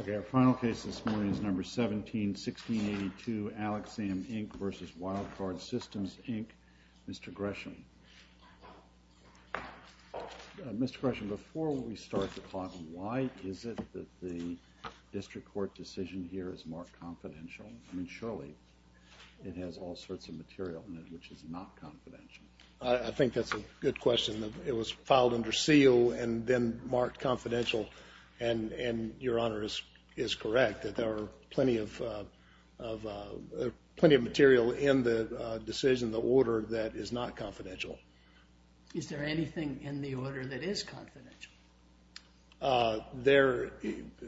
OK, our final case this morning is number 17-1682, Alexam, Inc. versus Wildcard Systems, Inc. Mr. Gresham, Mr. Gresham, before we start the clock, why is it that the district court decision here is marked confidential? I mean, surely it has all sorts of material in it which is not confidential. I think that's a good question. It was filed under seal and then marked confidential. And your honor is correct, that there are plenty of material in the decision, the order, that is not confidential. Is there anything in the order that is confidential?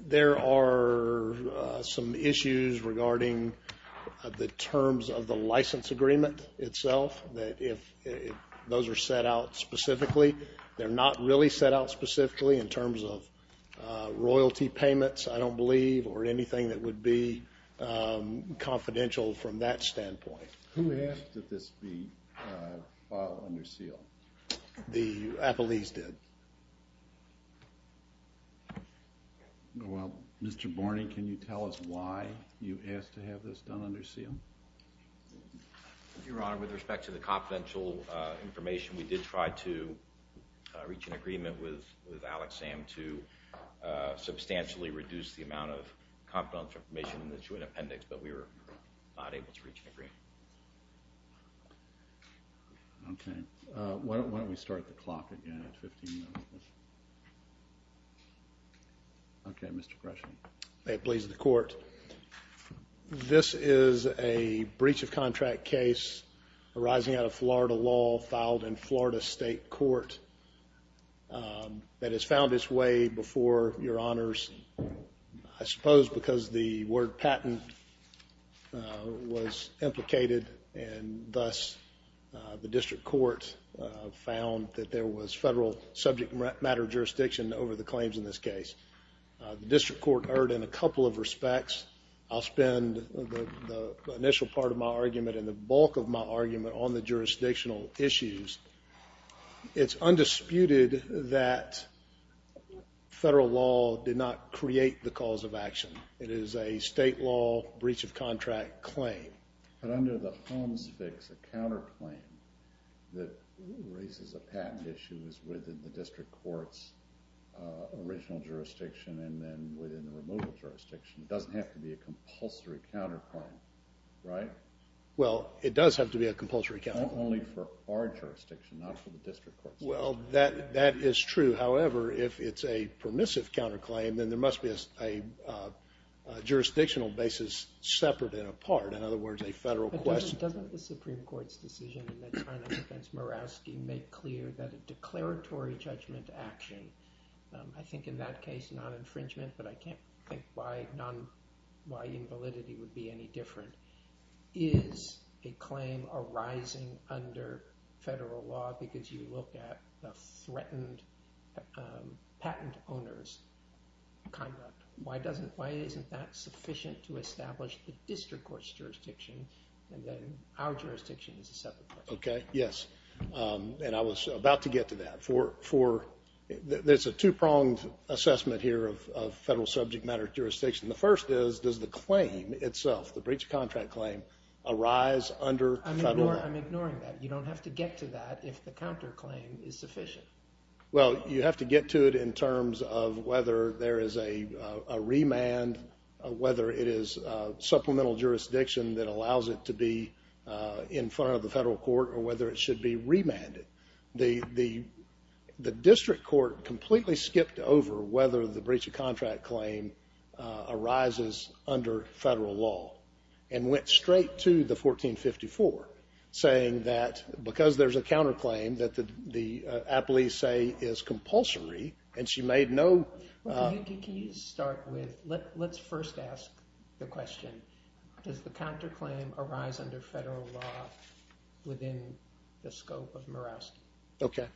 There are some issues regarding the terms of the license agreement itself, that if those are set out specifically. They're not really set out specifically in terms of royalty payments, I don't believe, or anything that would be confidential from that standpoint. Who asked that this be filed under seal? The Appalachians did. Well, Mr. Borney, can you tell us why you asked to have this done under seal? Your honor, with respect to the confidential information, we did try to reach an agreement with Alex Sam to substantially reduce the amount of confidential information in the joint appendix, but we were not able to reach an agreement. OK. Why don't we start the clock again at 15 minutes? OK, Mr. Gresham. May it please the court, this is a breach of contract case arising out of Florida law, filed in Florida State Court, that has found its way before your honors, I suppose because the word patent was implicated, and thus the district court found that there was federal subject matter jurisdiction over the claims in this case. The district court heard in a couple of respects. I'll spend the initial part of my argument and the bulk of my argument on the jurisdictional issues. It's undisputed that federal law did not create the cause of action. It is a state law breach of contract claim. But under the Holmes fix, a counterclaim that raises a patent issue is within the district court's original jurisdiction, and then within the removal jurisdiction. It doesn't have to be a compulsory counterclaim, right? Well, it does have to be a compulsory counterclaim. Not only for our jurisdiction, not for the district court's. Well, that is true. However, if it's a permissive counterclaim, then there must be a jurisdictional basis separate and apart. In other words, a federal question. But doesn't the Supreme Court's decision in their trial against Murawski make clear that a declaratory judgment action, I think in that case, non-infringement, but I can't think why non-validity would be any different, is a claim arising under federal law because you look at a threatened patent owner's contract. Why isn't that sufficient to establish the district court's jurisdiction, and then our jurisdiction is a separate jurisdiction? Yes. And I was about to get to that. There's a two-pronged assessment here of federal subject matter jurisdiction. The first is, does the claim itself, the breach of contract claim, arise under federal law? I'm ignoring that. You don't have to get to that if the counterclaim is sufficient. Well, you have to get to it in terms of whether there is a remand, whether it is supplemental jurisdiction that allows it to be in front of the federal court, or whether it should be remanded. The district court completely skipped over whether the breach of contract claim arises under federal law, and went straight to the 1454, saying that because there's a counterclaim that the appellees say is compulsory, and she made no. Can you start with, let's first ask the question, does the counterclaim arise under federal law within the scope of Murawski? OK.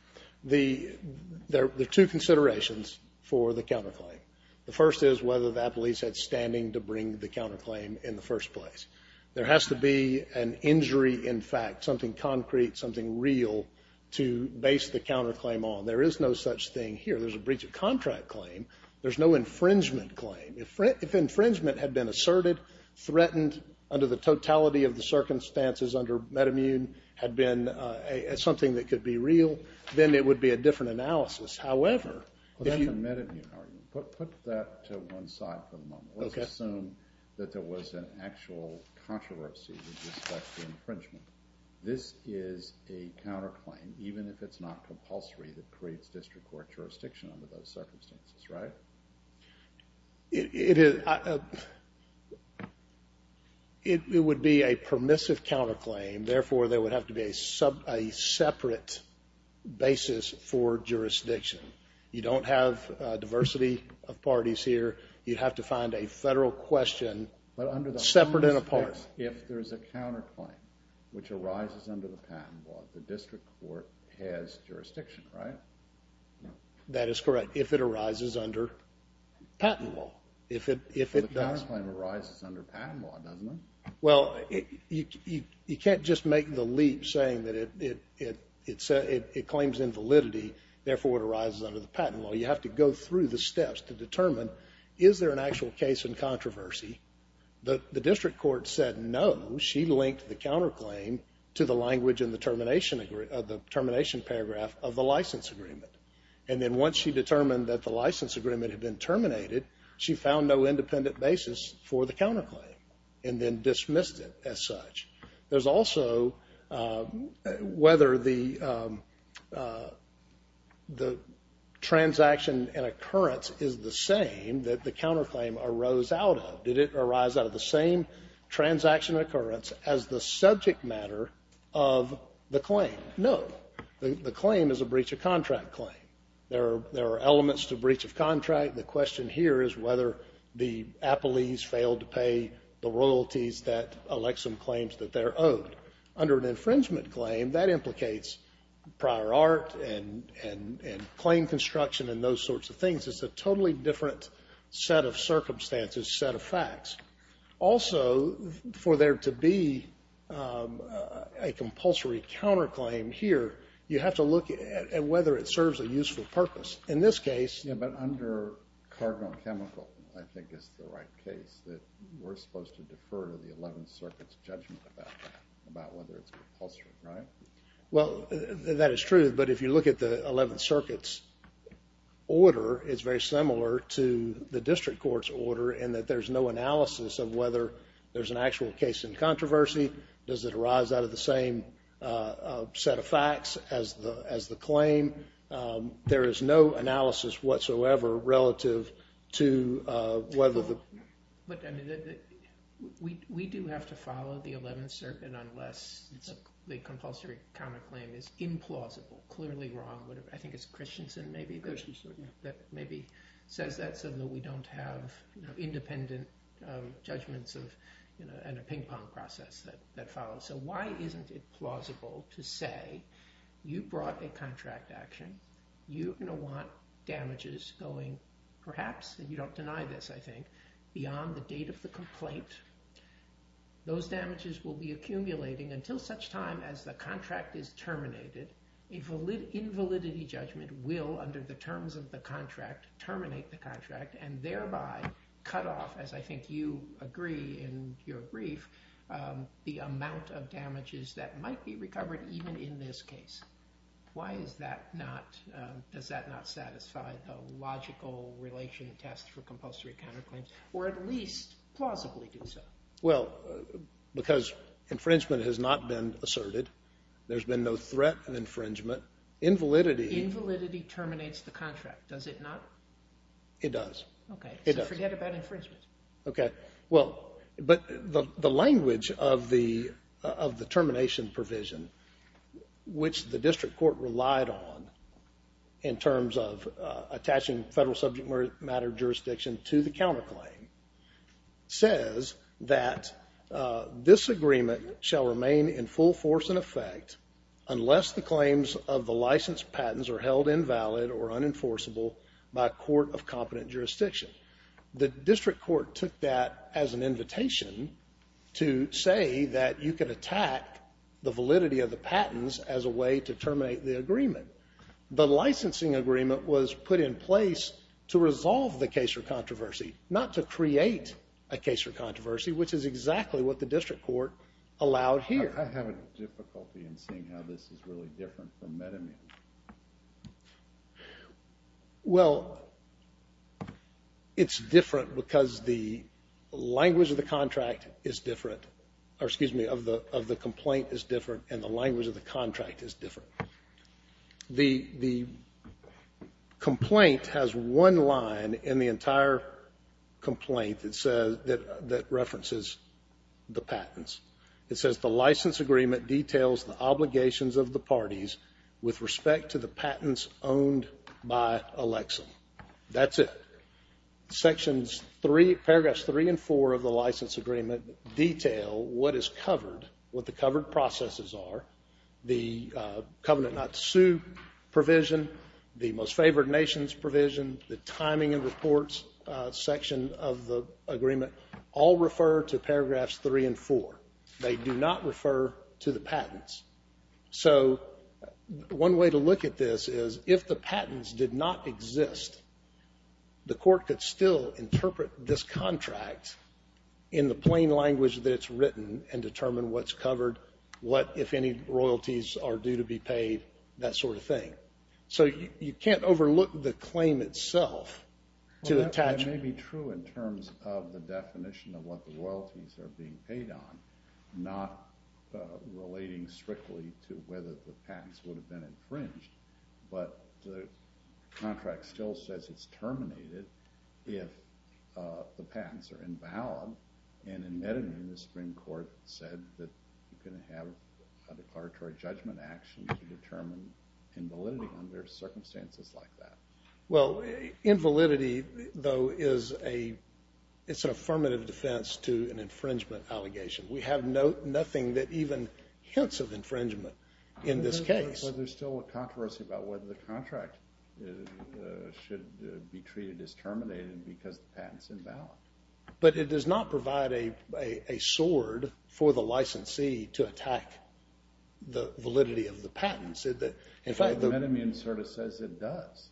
There are two considerations for the counterclaim. The first is whether the appellee said standing to bring the counterclaim in the first place. There has to be an injury in fact, something concrete, something real, to base the counterclaim on. There is no such thing here. There's a breach of contract claim. There's no infringement claim. If infringement had been asserted, threatened under the totality of the circumstances under metamune, had been something that could be real, then it would be a different analysis. However, if you Well, that's a metamune argument. Put that to one side for the moment. OK. Let's assume that there was an actual controversy with respect to infringement. This is a counterclaim, even if it's not compulsory, that creates district court jurisdiction under those circumstances, right? It would be a permissive counterclaim. Therefore, there would have to be a separate basis for jurisdiction. You don't have diversity of parties here. You'd have to find a federal question separate and apart. If there is a counterclaim, which arises under the patent law, the district court has jurisdiction, right? That is correct. If it arises under patent law. If it does. The counterclaim arises under patent law, doesn't it? Well, you can't just make the leap saying that it claims invalidity, therefore it arises under the patent law. You have to go through the steps to determine, is there an actual case in controversy? The district court said no. She linked the counterclaim to the language in the termination paragraph of the license agreement. And then once she determined that the license agreement had been terminated, she found no independent basis for the counterclaim and then dismissed it as such. There's also whether the transaction and occurrence is the same that the counterclaim arose out of. Did it arise out of the same transaction occurrence as the subject matter of the claim? No. The claim is a breach of contract claim. There are elements to breach of contract. The question here is whether the appellees failed to pay the royalties that elects some claims that they're owed. Under an infringement claim, that implicates prior art and claim construction and those sorts of things. It's a totally different set of circumstances, set of facts. Also, for there to be a compulsory counterclaim here, you have to look at whether it serves a useful purpose. In this case. But under cargo and chemical, I think it's the right case that we're supposed to defer to the 11th Circuit's judgment about that, about whether it's compulsory, right? Well, that is true. But if you look at the 11th Circuit's order, it's very similar to the district court's order in that there's no analysis of whether there's an actual case in controversy. Does it arise out of the same set of facts as the claim? There is no analysis whatsoever relative to whether the. But we do have to follow the 11th Circuit unless the compulsory counterclaim is implausible, clearly wrong. I think it's Christensen maybe that maybe says that. Even though we don't have independent judgments and a ping pong process that follows. So why isn't it plausible to say, you brought a contract action. You're going to want damages going, perhaps, and you don't deny this, I think, beyond the date of the complaint. Those damages will be accumulating until such time as the contract is terminated. Invalidity judgment will, under the terms of the contract, terminate the contract and thereby cut off, as I think you agree in your brief, the amount of damages that might be recovered even in this case. Why is that not, does that not satisfy the logical relation test for compulsory counterclaims, or at least plausibly do so? Well, because infringement has not been asserted. There's been no threat of infringement. Invalidity. Invalidity terminates the contract. Does it not? It does. OK. So forget about infringement. OK. Well, but the language of the termination provision, which the district court relied on in terms of attaching federal subject matter jurisdiction to the counterclaim, says that this agreement shall remain in full force and effect unless the claims of the licensed patents are held invalid or unenforceable by a court of competent jurisdiction. The district court took that as an invitation to say that you could attack the validity of the patents as a way to terminate the agreement. The licensing agreement was put in place to resolve the case for controversy, not to create a case for controversy, which is exactly what the district court allowed here. I have a difficulty in seeing how this is really different from meta-media. Well, it's different because the language of the contract is different. Or excuse me, of the complaint is different and the language of the contract is different. The complaint has one line in the entire complaint that says, that references the patents. It says, the license agreement details the obligations of the parties with respect to the patents owned by Alexa. That's it. Sections three, paragraphs three and four of the license agreement detail what is covered, what the covered processes are. The covenant not to sue provision, the most favored nations provision, the timing and reports section of the agreement all refer to paragraphs three and four. They do not refer to the patents. So one way to look at this is, if the patents did not exist, the court could still interpret this contract in the plain language that it's written and determine what's covered, what, if any, royalties are due to be paid, that sort of thing. So you can't overlook the claim itself to attach. That may be true in terms of the definition of what the royalties are being paid on, not relating strictly to whether the patents would have been infringed. But the contract still says it's terminated if the patents are invalid. And in Medellin, the Supreme Court said that you can have a declaratory judgment action to determine invalidity under circumstances like that. Well, invalidity, though, it's an affirmative defense to an infringement allegation. We have nothing that even hints of infringement in this case. But there's still a controversy about whether the contract should be treated as terminated because the patent's invalid. But it does not provide a sword for the licensee to attack the validity of the patents. In fact, the metamune sort of says it does.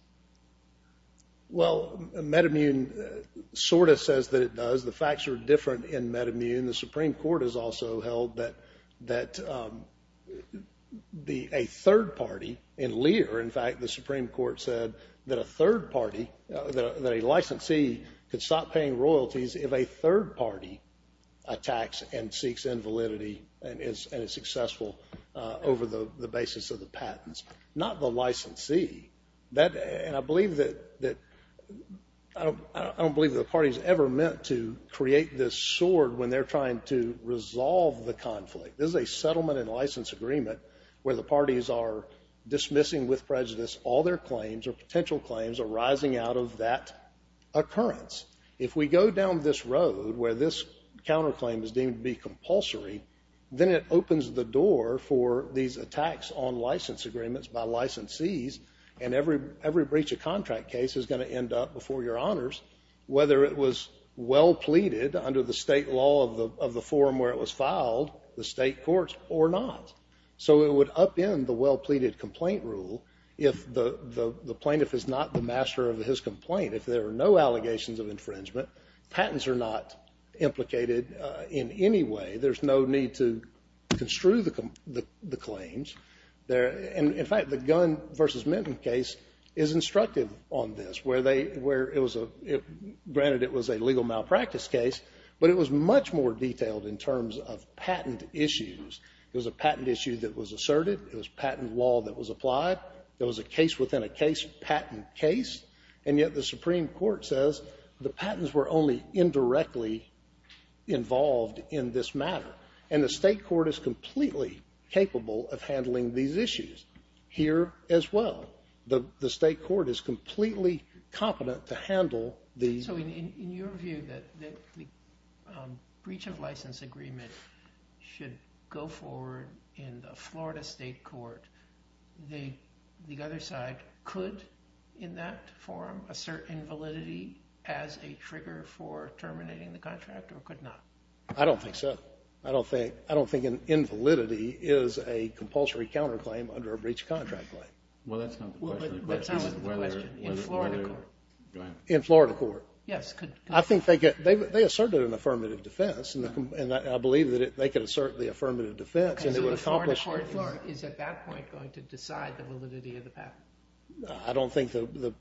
Well, metamune sort of says that it does. The facts are different in metamune. The Supreme Court has also held that a third party, in Lear, in fact, the Supreme Court said that a third party, that a licensee could stop paying royalties if a third party attacks and seeks invalidity and is successful over the basis of the patents. Not the licensee. And I believe that, I don't believe the party's ever meant to create this sword when they're trying to resolve the conflict. This is a settlement and license agreement where the parties are dismissing with prejudice all their claims or potential claims arising out of that occurrence. If we go down this road where this counterclaim is deemed to be compulsory, then it opens the door for these attacks on license agreements by licensees. And every breach of contract case is going to end up before your honors, whether it was well pleaded under the state law of the forum where it was filed, the state courts, or not. So it would upend the well pleaded complaint rule if the plaintiff is not the master of his complaint. If there are no allegations of infringement, patents are not implicated in any way. There's no need to construe the claims. And in fact, the Gunn versus Minton case is instructive on this. Granted, it was a legal malpractice case, but it was much more detailed in terms of patent issues. It was a patent issue that was asserted. It was patent law that was applied. It was a case within a case, patent case. And yet the Supreme Court says the patents were only indirectly involved in this matter. And the state court is completely capable of handling these issues here as well. The state court is completely competent to handle the- So in your view that the breach of license agreement should go forward in the Florida state court, the other side could, in that forum, assert invalidity as a trigger for terminating the contract, or could not? I don't think so. I don't think an invalidity is a compulsory counterclaim under a breach of contract claim. Well, that's not the question. That's not the question. In Florida court. In Florida court? Yes. I think they asserted an affirmative defense, and I believe that they could assert the affirmative defense, and it would accomplish- So the Florida court is, at that point, going to decide the validity of the patent? I don't think the-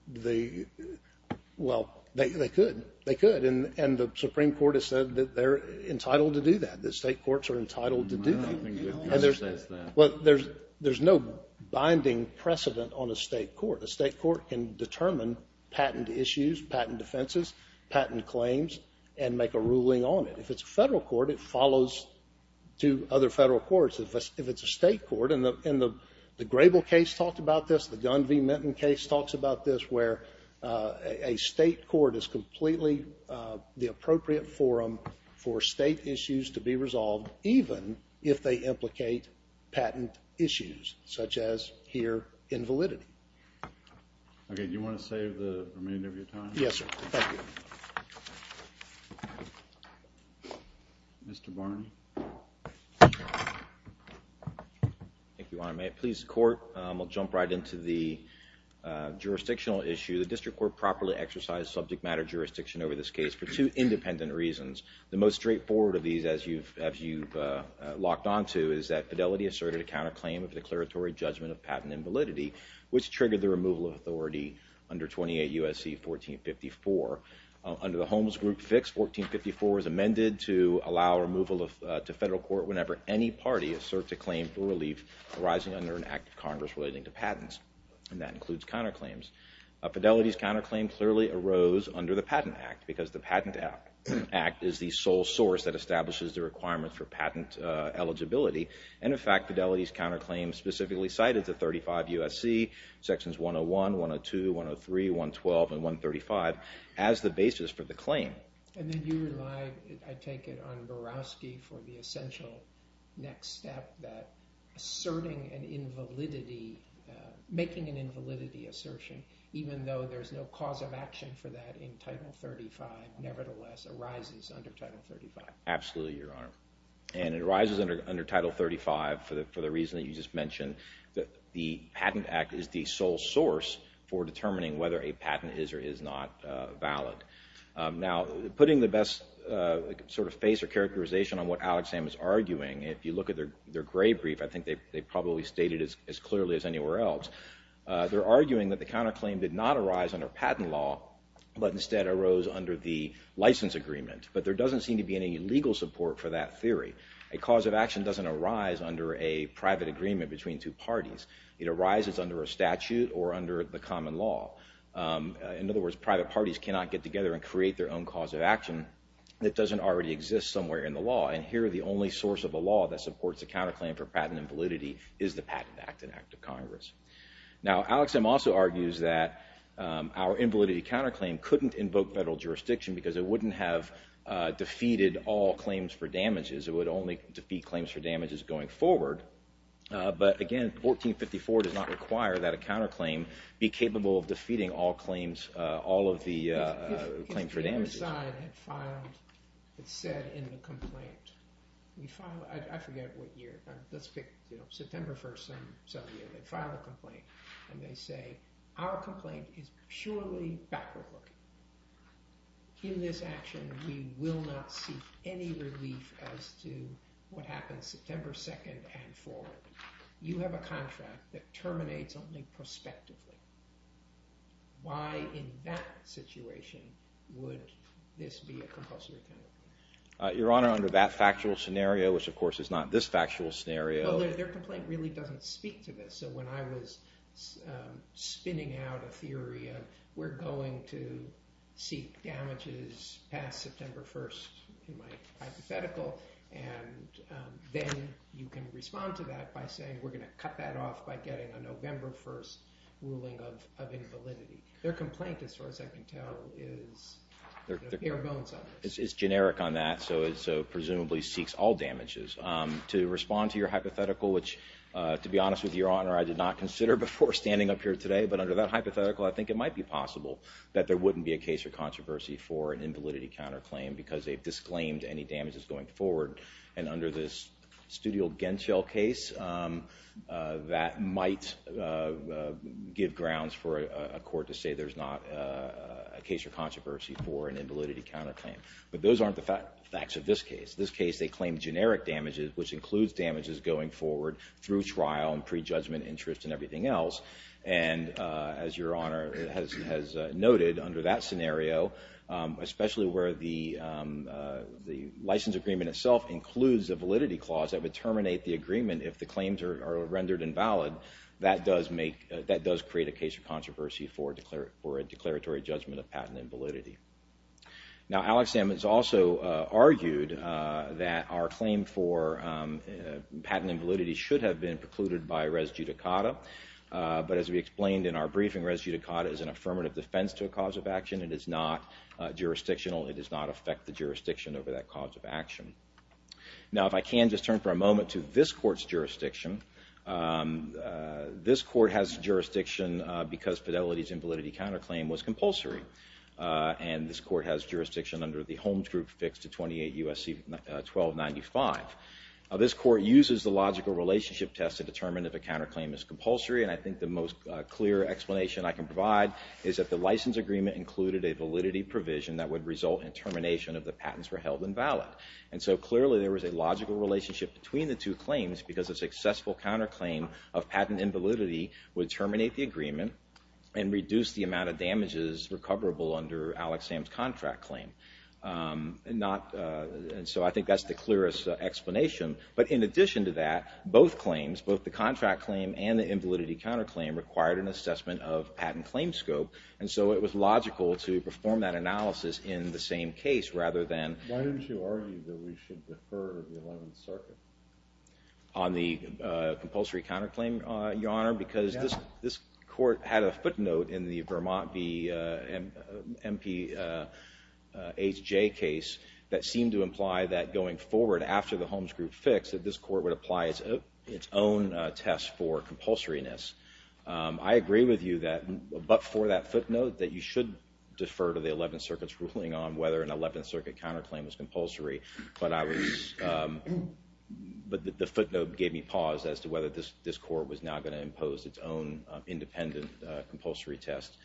Well, they could. They could, and the Supreme Court has said that they're entitled to do that. The state courts are entitled to do that. Well, there's no binding precedent on a state court. A state court can determine patent issues, patent defenses, patent claims, and make a ruling on it. If it's a federal court, it follows to other federal courts. If it's a state court, and the Grable case talked about this, the Gunn v. Minton case talks about this, where a state court is completely the appropriate forum for state issues to be resolved, even if they implicate patent issues, such as here, invalidity. Okay. Do you want to save the remainder of your time? Yes, sir. Thank you. Mr. Barney. Thank you, Your Honor. May it please the court? We'll jump right into the jurisdictional issue. The district court properly exercised subject matter jurisdiction over this case for two independent reasons. The most straightforward of these, as you've locked on to, is that Fidelity asserted a counterclaim of declaratory judgment of patent invalidity, which triggered the removal of authority under 28 U.S.C. 1454. Under the Holmes Group fix, 1454 was amended to allow removal to federal court whenever any party asserts a claim for relief arising under an act of Congress relating to patents, and that includes counterclaims. Fidelity's counterclaim clearly arose under the Patent Act because the Patent Act is the sole source that establishes the requirement for patent eligibility. And in fact, Fidelity's counterclaim specifically cited the 35 U.S.C., sections 101, 102, 103, 112, and 135 as the basis for the claim. And then you relied, I take it, on Borowski for the essential next step that asserting an invalidity, making an invalidity assertion, even though there's no cause of action for that in Title 35, nevertheless arises under Title 35. Absolutely, Your Honor. And it arises under Title 35 for the reason that you just mentioned, that the Patent Act is the sole source for determining whether a patent is or is not valid. Now, putting the best sort of face or characterization on what Alex Sam is arguing, if you look at their gray brief, I think they probably state it as clearly as anywhere else, they're arguing that the counterclaim did not arise under patent law, but instead arose under the license agreement. But there doesn't seem to be any legal support for that theory. A cause of action doesn't arise under a private agreement between two parties. It arises under a statute or under the common law. In other words, private parties cannot get together and create their own cause of action that doesn't already exist somewhere in the law. And here, the only source of a law that supports a counterclaim for patent invalidity is the Patent Act and Act of Congress. Now, Alex Sam also argues that our invalidity counterclaim couldn't invoke federal jurisdiction because it wouldn't have defeated all claims for damages. It would only defeat claims for damages going forward. But again, 1454 does not require that a counterclaim be capable of defeating all claims, all of the claims for damages. If the other side had filed, had said in the complaint, we file, I forget what year, let's pick September 1st, some year, they file a complaint, and they say, our complaint is purely backward-looking. In this action, we will not seek any relief as to what happens September 2nd and forward. You have a contract that terminates only prospectively. Why, in that situation, would this be a compulsory counterclaim? Your Honor, under that factual scenario, which of course is not this factual scenario. Well, their complaint really doesn't speak to this. So when I was spinning out a theory of we're going to seek damages past September 1st in my hypothetical, and then you can respond to that by saying we're gonna cut that off by getting a November 1st ruling of invalidity. Their complaint, as far as I can tell, is the bare bones of it. It's generic on that, so it presumably seeks all damages. To respond to your hypothetical, which, to be honest with you, Your Honor, I did not consider before standing up here today, but under that hypothetical, I think it might be possible that there wouldn't be a case or controversy for an invalidity counterclaim because they've disclaimed any damages going forward. And under this Studio Genschel case, that might give grounds for a court to say there's not a case or controversy for an invalidity counterclaim. But those aren't the facts of this case. This case, they claim generic damages, which includes damages going forward through trial and pre-judgment interest and everything else. And as Your Honor has noted, under that scenario, especially where the license agreement itself includes a validity clause that would terminate the agreement if the claims are rendered invalid, that does create a case or controversy for a declaratory judgment of patent invalidity. Now, Alex Ammons also argued that our claim for patent invalidity should have been precluded by res judicata, but as we explained in our briefing, res judicata is an affirmative defense to a cause of action. It is not jurisdictional. It does not affect the jurisdiction over that cause of action. Now, if I can just turn for a moment to this court's jurisdiction. This court has jurisdiction because Fidelity's Invalidity Counterclaim was compulsory. And this court has jurisdiction under the Holmes Group fixed to 28 U.S.C. 1295. This court uses the logical relationship test to determine if a counterclaim is compulsory. And I think the most clear explanation I can provide is that the license agreement included a validity provision that would result in termination if the patents were held invalid. And so clearly, there was a logical relationship between the two claims because a successful counterclaim of patent invalidity would terminate the agreement and reduce the amount of damages recoverable under Alex Sam's contract claim. And so I think that's the clearest explanation. But in addition to that, both claims, both the contract claim and the Invalidity Counterclaim required an assessment of patent claim scope. And so it was logical to perform that analysis in the same case rather than. Why don't you argue that we should defer the 11th Circuit? On the compulsory counterclaim, Your Honor? I'm concerned because this court had a footnote in the Vermont v. MPHJ case that seemed to imply that going forward after the Holmes Group fix that this court would apply its own test for compulsoriness. I agree with you that, but for that footnote, that you should defer to the 11th Circuit's ruling on whether an 11th Circuit counterclaim was compulsory. But I was, but the footnote gave me pause as to whether this court was now gonna impose its own independent compulsory test.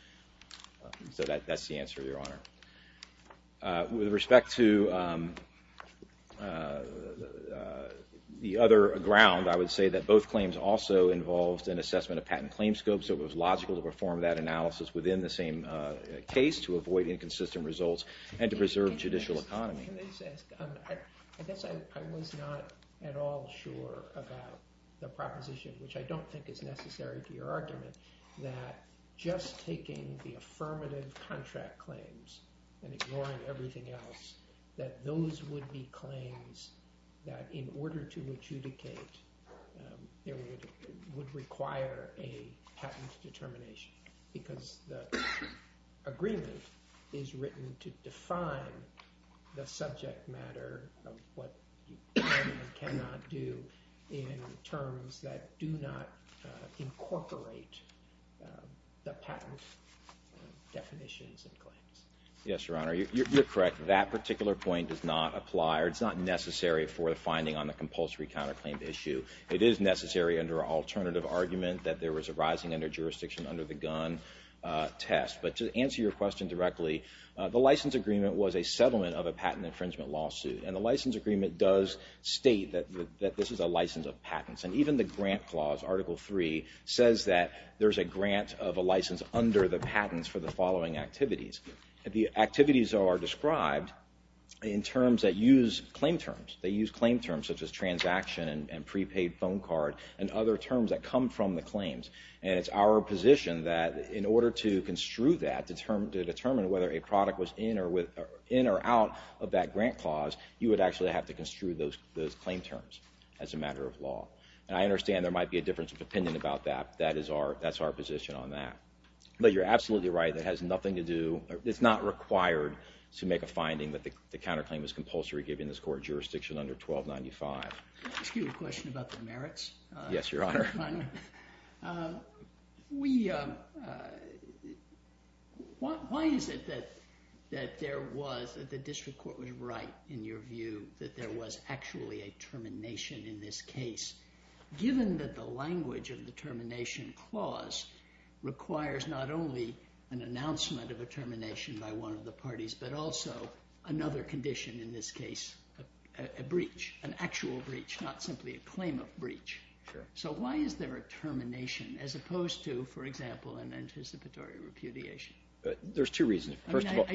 So that's the answer, Your Honor. With respect to the other ground, I would say that both claims also involved an assessment of patent claim scope. So it was logical to perform that analysis within the same case to avoid inconsistent results and to preserve judicial economy. Can I just ask, I guess I was not at all sure about the proposition, which I don't think is necessary to your argument, that just taking the affirmative contract claims and ignoring everything else, that those would be claims that in order to adjudicate, it would require a patent determination because the agreement is written to define the subject matter of what you can and cannot do in terms that do not incorporate the patent definitions and claims. Yes, Your Honor, you're correct. That particular point does not apply, or it's not necessary for the finding on the compulsory counterclaim issue. It is necessary under an alternative argument that there was a rising under jurisdiction under the Gunn test. But to answer your question directly, the license agreement was a settlement of a patent infringement lawsuit. And the license agreement does state that this is a license of patents. And even the grant clause, Article III, says that there's a grant of a license under the patents for the following activities. The activities are described in terms that use claim terms. They use claim terms such as transaction and prepaid phone card and other terms that come from the claims. And it's our position that in order to construe that, to determine whether a product was in or out of that grant clause, you would actually have to construe those claim terms as a matter of law. And I understand there might be a difference of opinion about that. That's our position on that. But you're absolutely right, it has nothing to do, it's not required to make a finding that the counterclaim is compulsory given this court jurisdiction under 1295. Excuse me, a question about the merits. Yes, Your Honor. Your Honor, we, why is it that there was, that the district court was right in your view that there was actually a termination in this case given that the language of the termination clause requires not only an announcement of a termination by one of the parties, but also another condition in this case, a breach, an actual breach, not simply a claim of breach. So why is there a termination as opposed to, for example, an anticipatory repudiation? There's two reasons. First of all.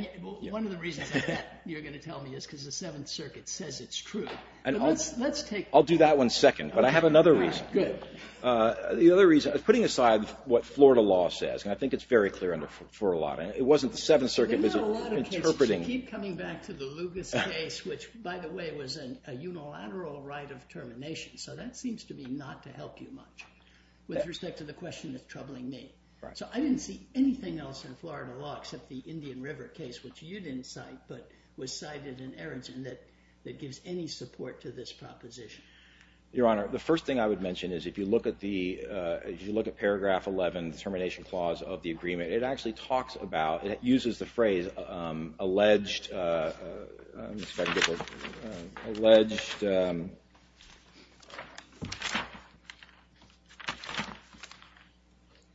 One of the reasons I bet you're gonna tell me is because the Seventh Circuit says it's true. And let's take. I'll do that one second, but I have another reason. Good. The other reason, putting aside what Florida law says, and I think it's very clear for a lot of, it wasn't the Seventh Circuit interpreting. You keep coming back to the Lugas case, which by the way was a unilateral right of termination. So that seems to be not to help you much with respect to the question of troubling me. So I didn't see anything else in Florida law except the Indian River case, which you didn't cite, but was cited in Aronson that gives any support to this proposition. Your Honor, the first thing I would mention is if you look at the, if you look at paragraph 11, the termination clause of the agreement, it actually talks about, it uses the phrase alleged, I'm just trying to get the, alleged,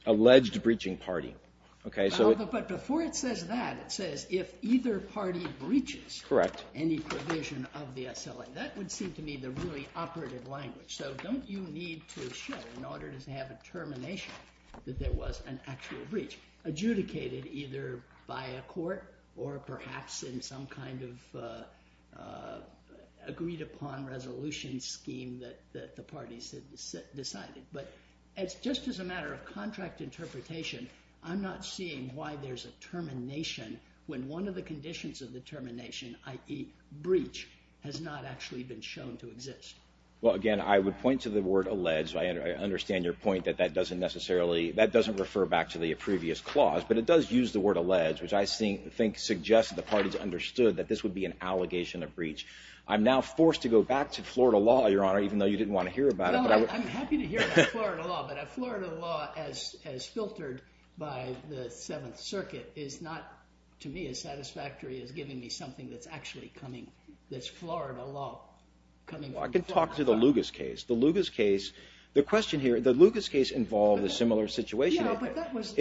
alleged breaching party. Okay, so. But before it says that, it says, if either party breaches. Correct. Any provision of the SLA. That would seem to me the really operative language. So don't you need to show, in order to have a termination, that there was an actual breach, adjudicated either by a court, or perhaps in some kind of agreed upon resolution scheme that the parties had decided. But just as a matter of contract interpretation, I'm not seeing why there's a termination when one of the conditions of the termination, i.e. breach, has not actually been shown to exist. Well, again, I would point to the word alleged, so I understand your point that that doesn't necessarily, that doesn't refer back to the previous clause, but it does use the word alleged, which I think suggests that the parties understood that this would be an allegation of breach. I'm now forced to go back to Florida law, Your Honor, even though you didn't want to hear about it. No, I'm happy to hear about Florida law, but Florida law, as filtered by the Seventh Circuit, is not, to me, as satisfactory as giving me something that's actually coming, that's Florida law, coming from my side. Well, I can talk to the Lugas case. The Lugas case, the question here, the Lugas case involved a similar situation. Yeah, but that was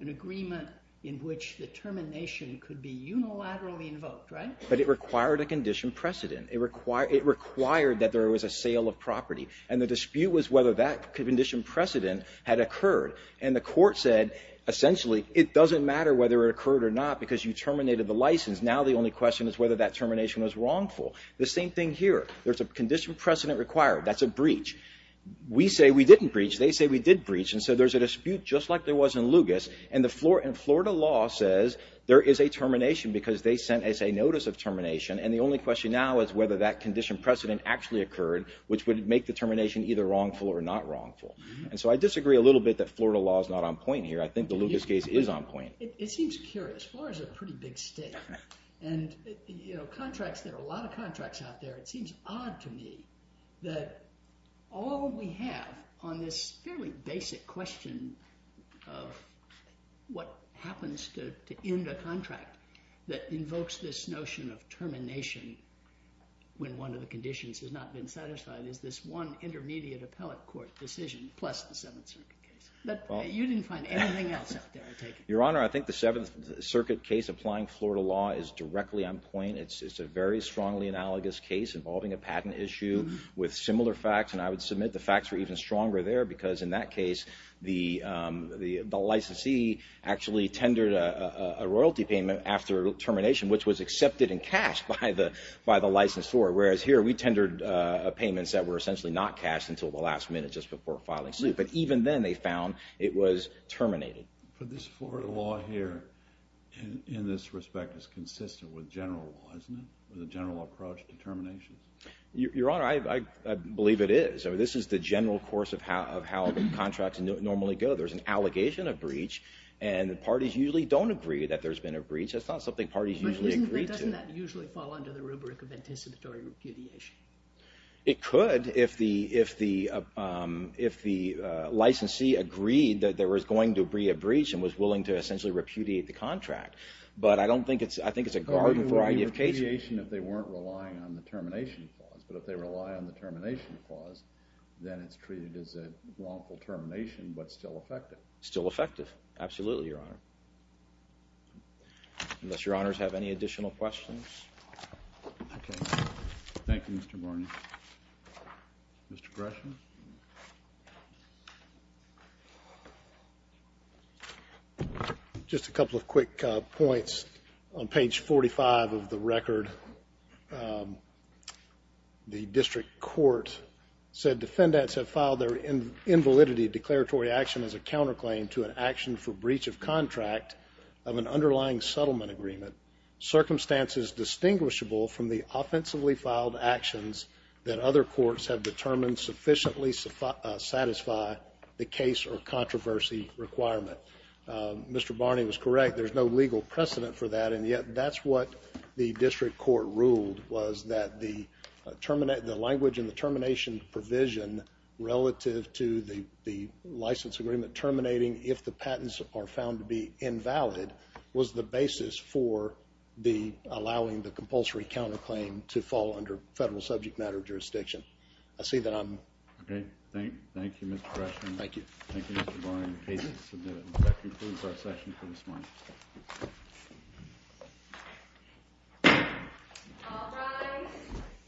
an agreement in which the termination could be unilaterally invoked, right? But it required a condition precedent. It required that there was a sale of property, and the dispute was whether that condition precedent had occurred, and the court said, essentially, it doesn't matter whether it occurred or not because you terminated the license. Now the only question is whether that termination was wrongful. The same thing here. There's a condition precedent required. That's a breach. We say we didn't breach. They say we did breach, and so there's a dispute just like there was in Lugas, and Florida law says there is a termination because they sent us a notice of termination, and the only question now is whether that condition precedent actually occurred, which would make the termination either wrongful or not wrongful, and so I disagree a little bit that Florida law's not on point here. I think the Lugas case is on point. It seems curious. Florida's a pretty big state, and contracts, there are a lot of contracts out there. It seems odd to me that all we have on this fairly basic question of what happens to end a contract that invokes this notion of termination when one of the conditions has not been satisfied is this one intermediate appellate court decision, plus the Seventh Circuit case. You didn't find anything else out there, I take it? Your Honor, I think the Seventh Circuit case applying Florida law is directly on point. It's a very strongly analogous case involving a patent issue with similar facts, and I would submit the facts were even stronger there because in that case, the licensee actually tendered a royalty payment after termination, which was accepted in cash by the licensor, whereas here we tendered payments that were essentially not cashed until the last minute just before filing suit, but even then they found it was terminated. But this Florida law here, in this respect, is consistent with general law, isn't it, with a general approach to termination? Your Honor, I believe it is. This is the general course of how contracts normally go. There's an allegation of breach, and the parties usually don't agree that there's been a breach. That's not something parties usually agree to. But doesn't that usually fall under the rubric of anticipatory repudiation? It could if the licensee agreed that there was going to be a breach and was willing to essentially repudiate the contract, but I don't think it's, I think it's a garden variety of cases. Repudiation if they weren't relying on the termination clause, but if they rely on the termination clause, then it's treated as a wrongful termination, but still effective. Still effective, absolutely, Your Honor. Unless Your Honors have any additional questions. Thank you, Mr. Morney. Mr. Gresham? Just a couple of quick points. On page 45 of the record, the district court said, defendants have filed their invalidity declaratory action as a counterclaim to an action for breach of contract of an underlying settlement agreement. Circumstances distinguishable that other courts have determined sufficient to prevent breach of contract. At least satisfy the case or controversy requirement. Mr. Barney was correct. There's no legal precedent for that, and yet that's what the district court ruled was that the termination, the language in the termination provision relative to the license agreement terminating if the patents are found to be invalid was the basis for the, allowing the compulsory counterclaim to fall under federal subject matter jurisdiction. I see that I'm. Okay, thank you, Mr. Gresham. Thank you. Thank you, Mr. Barney and cases. That concludes our session for this morning. All rise.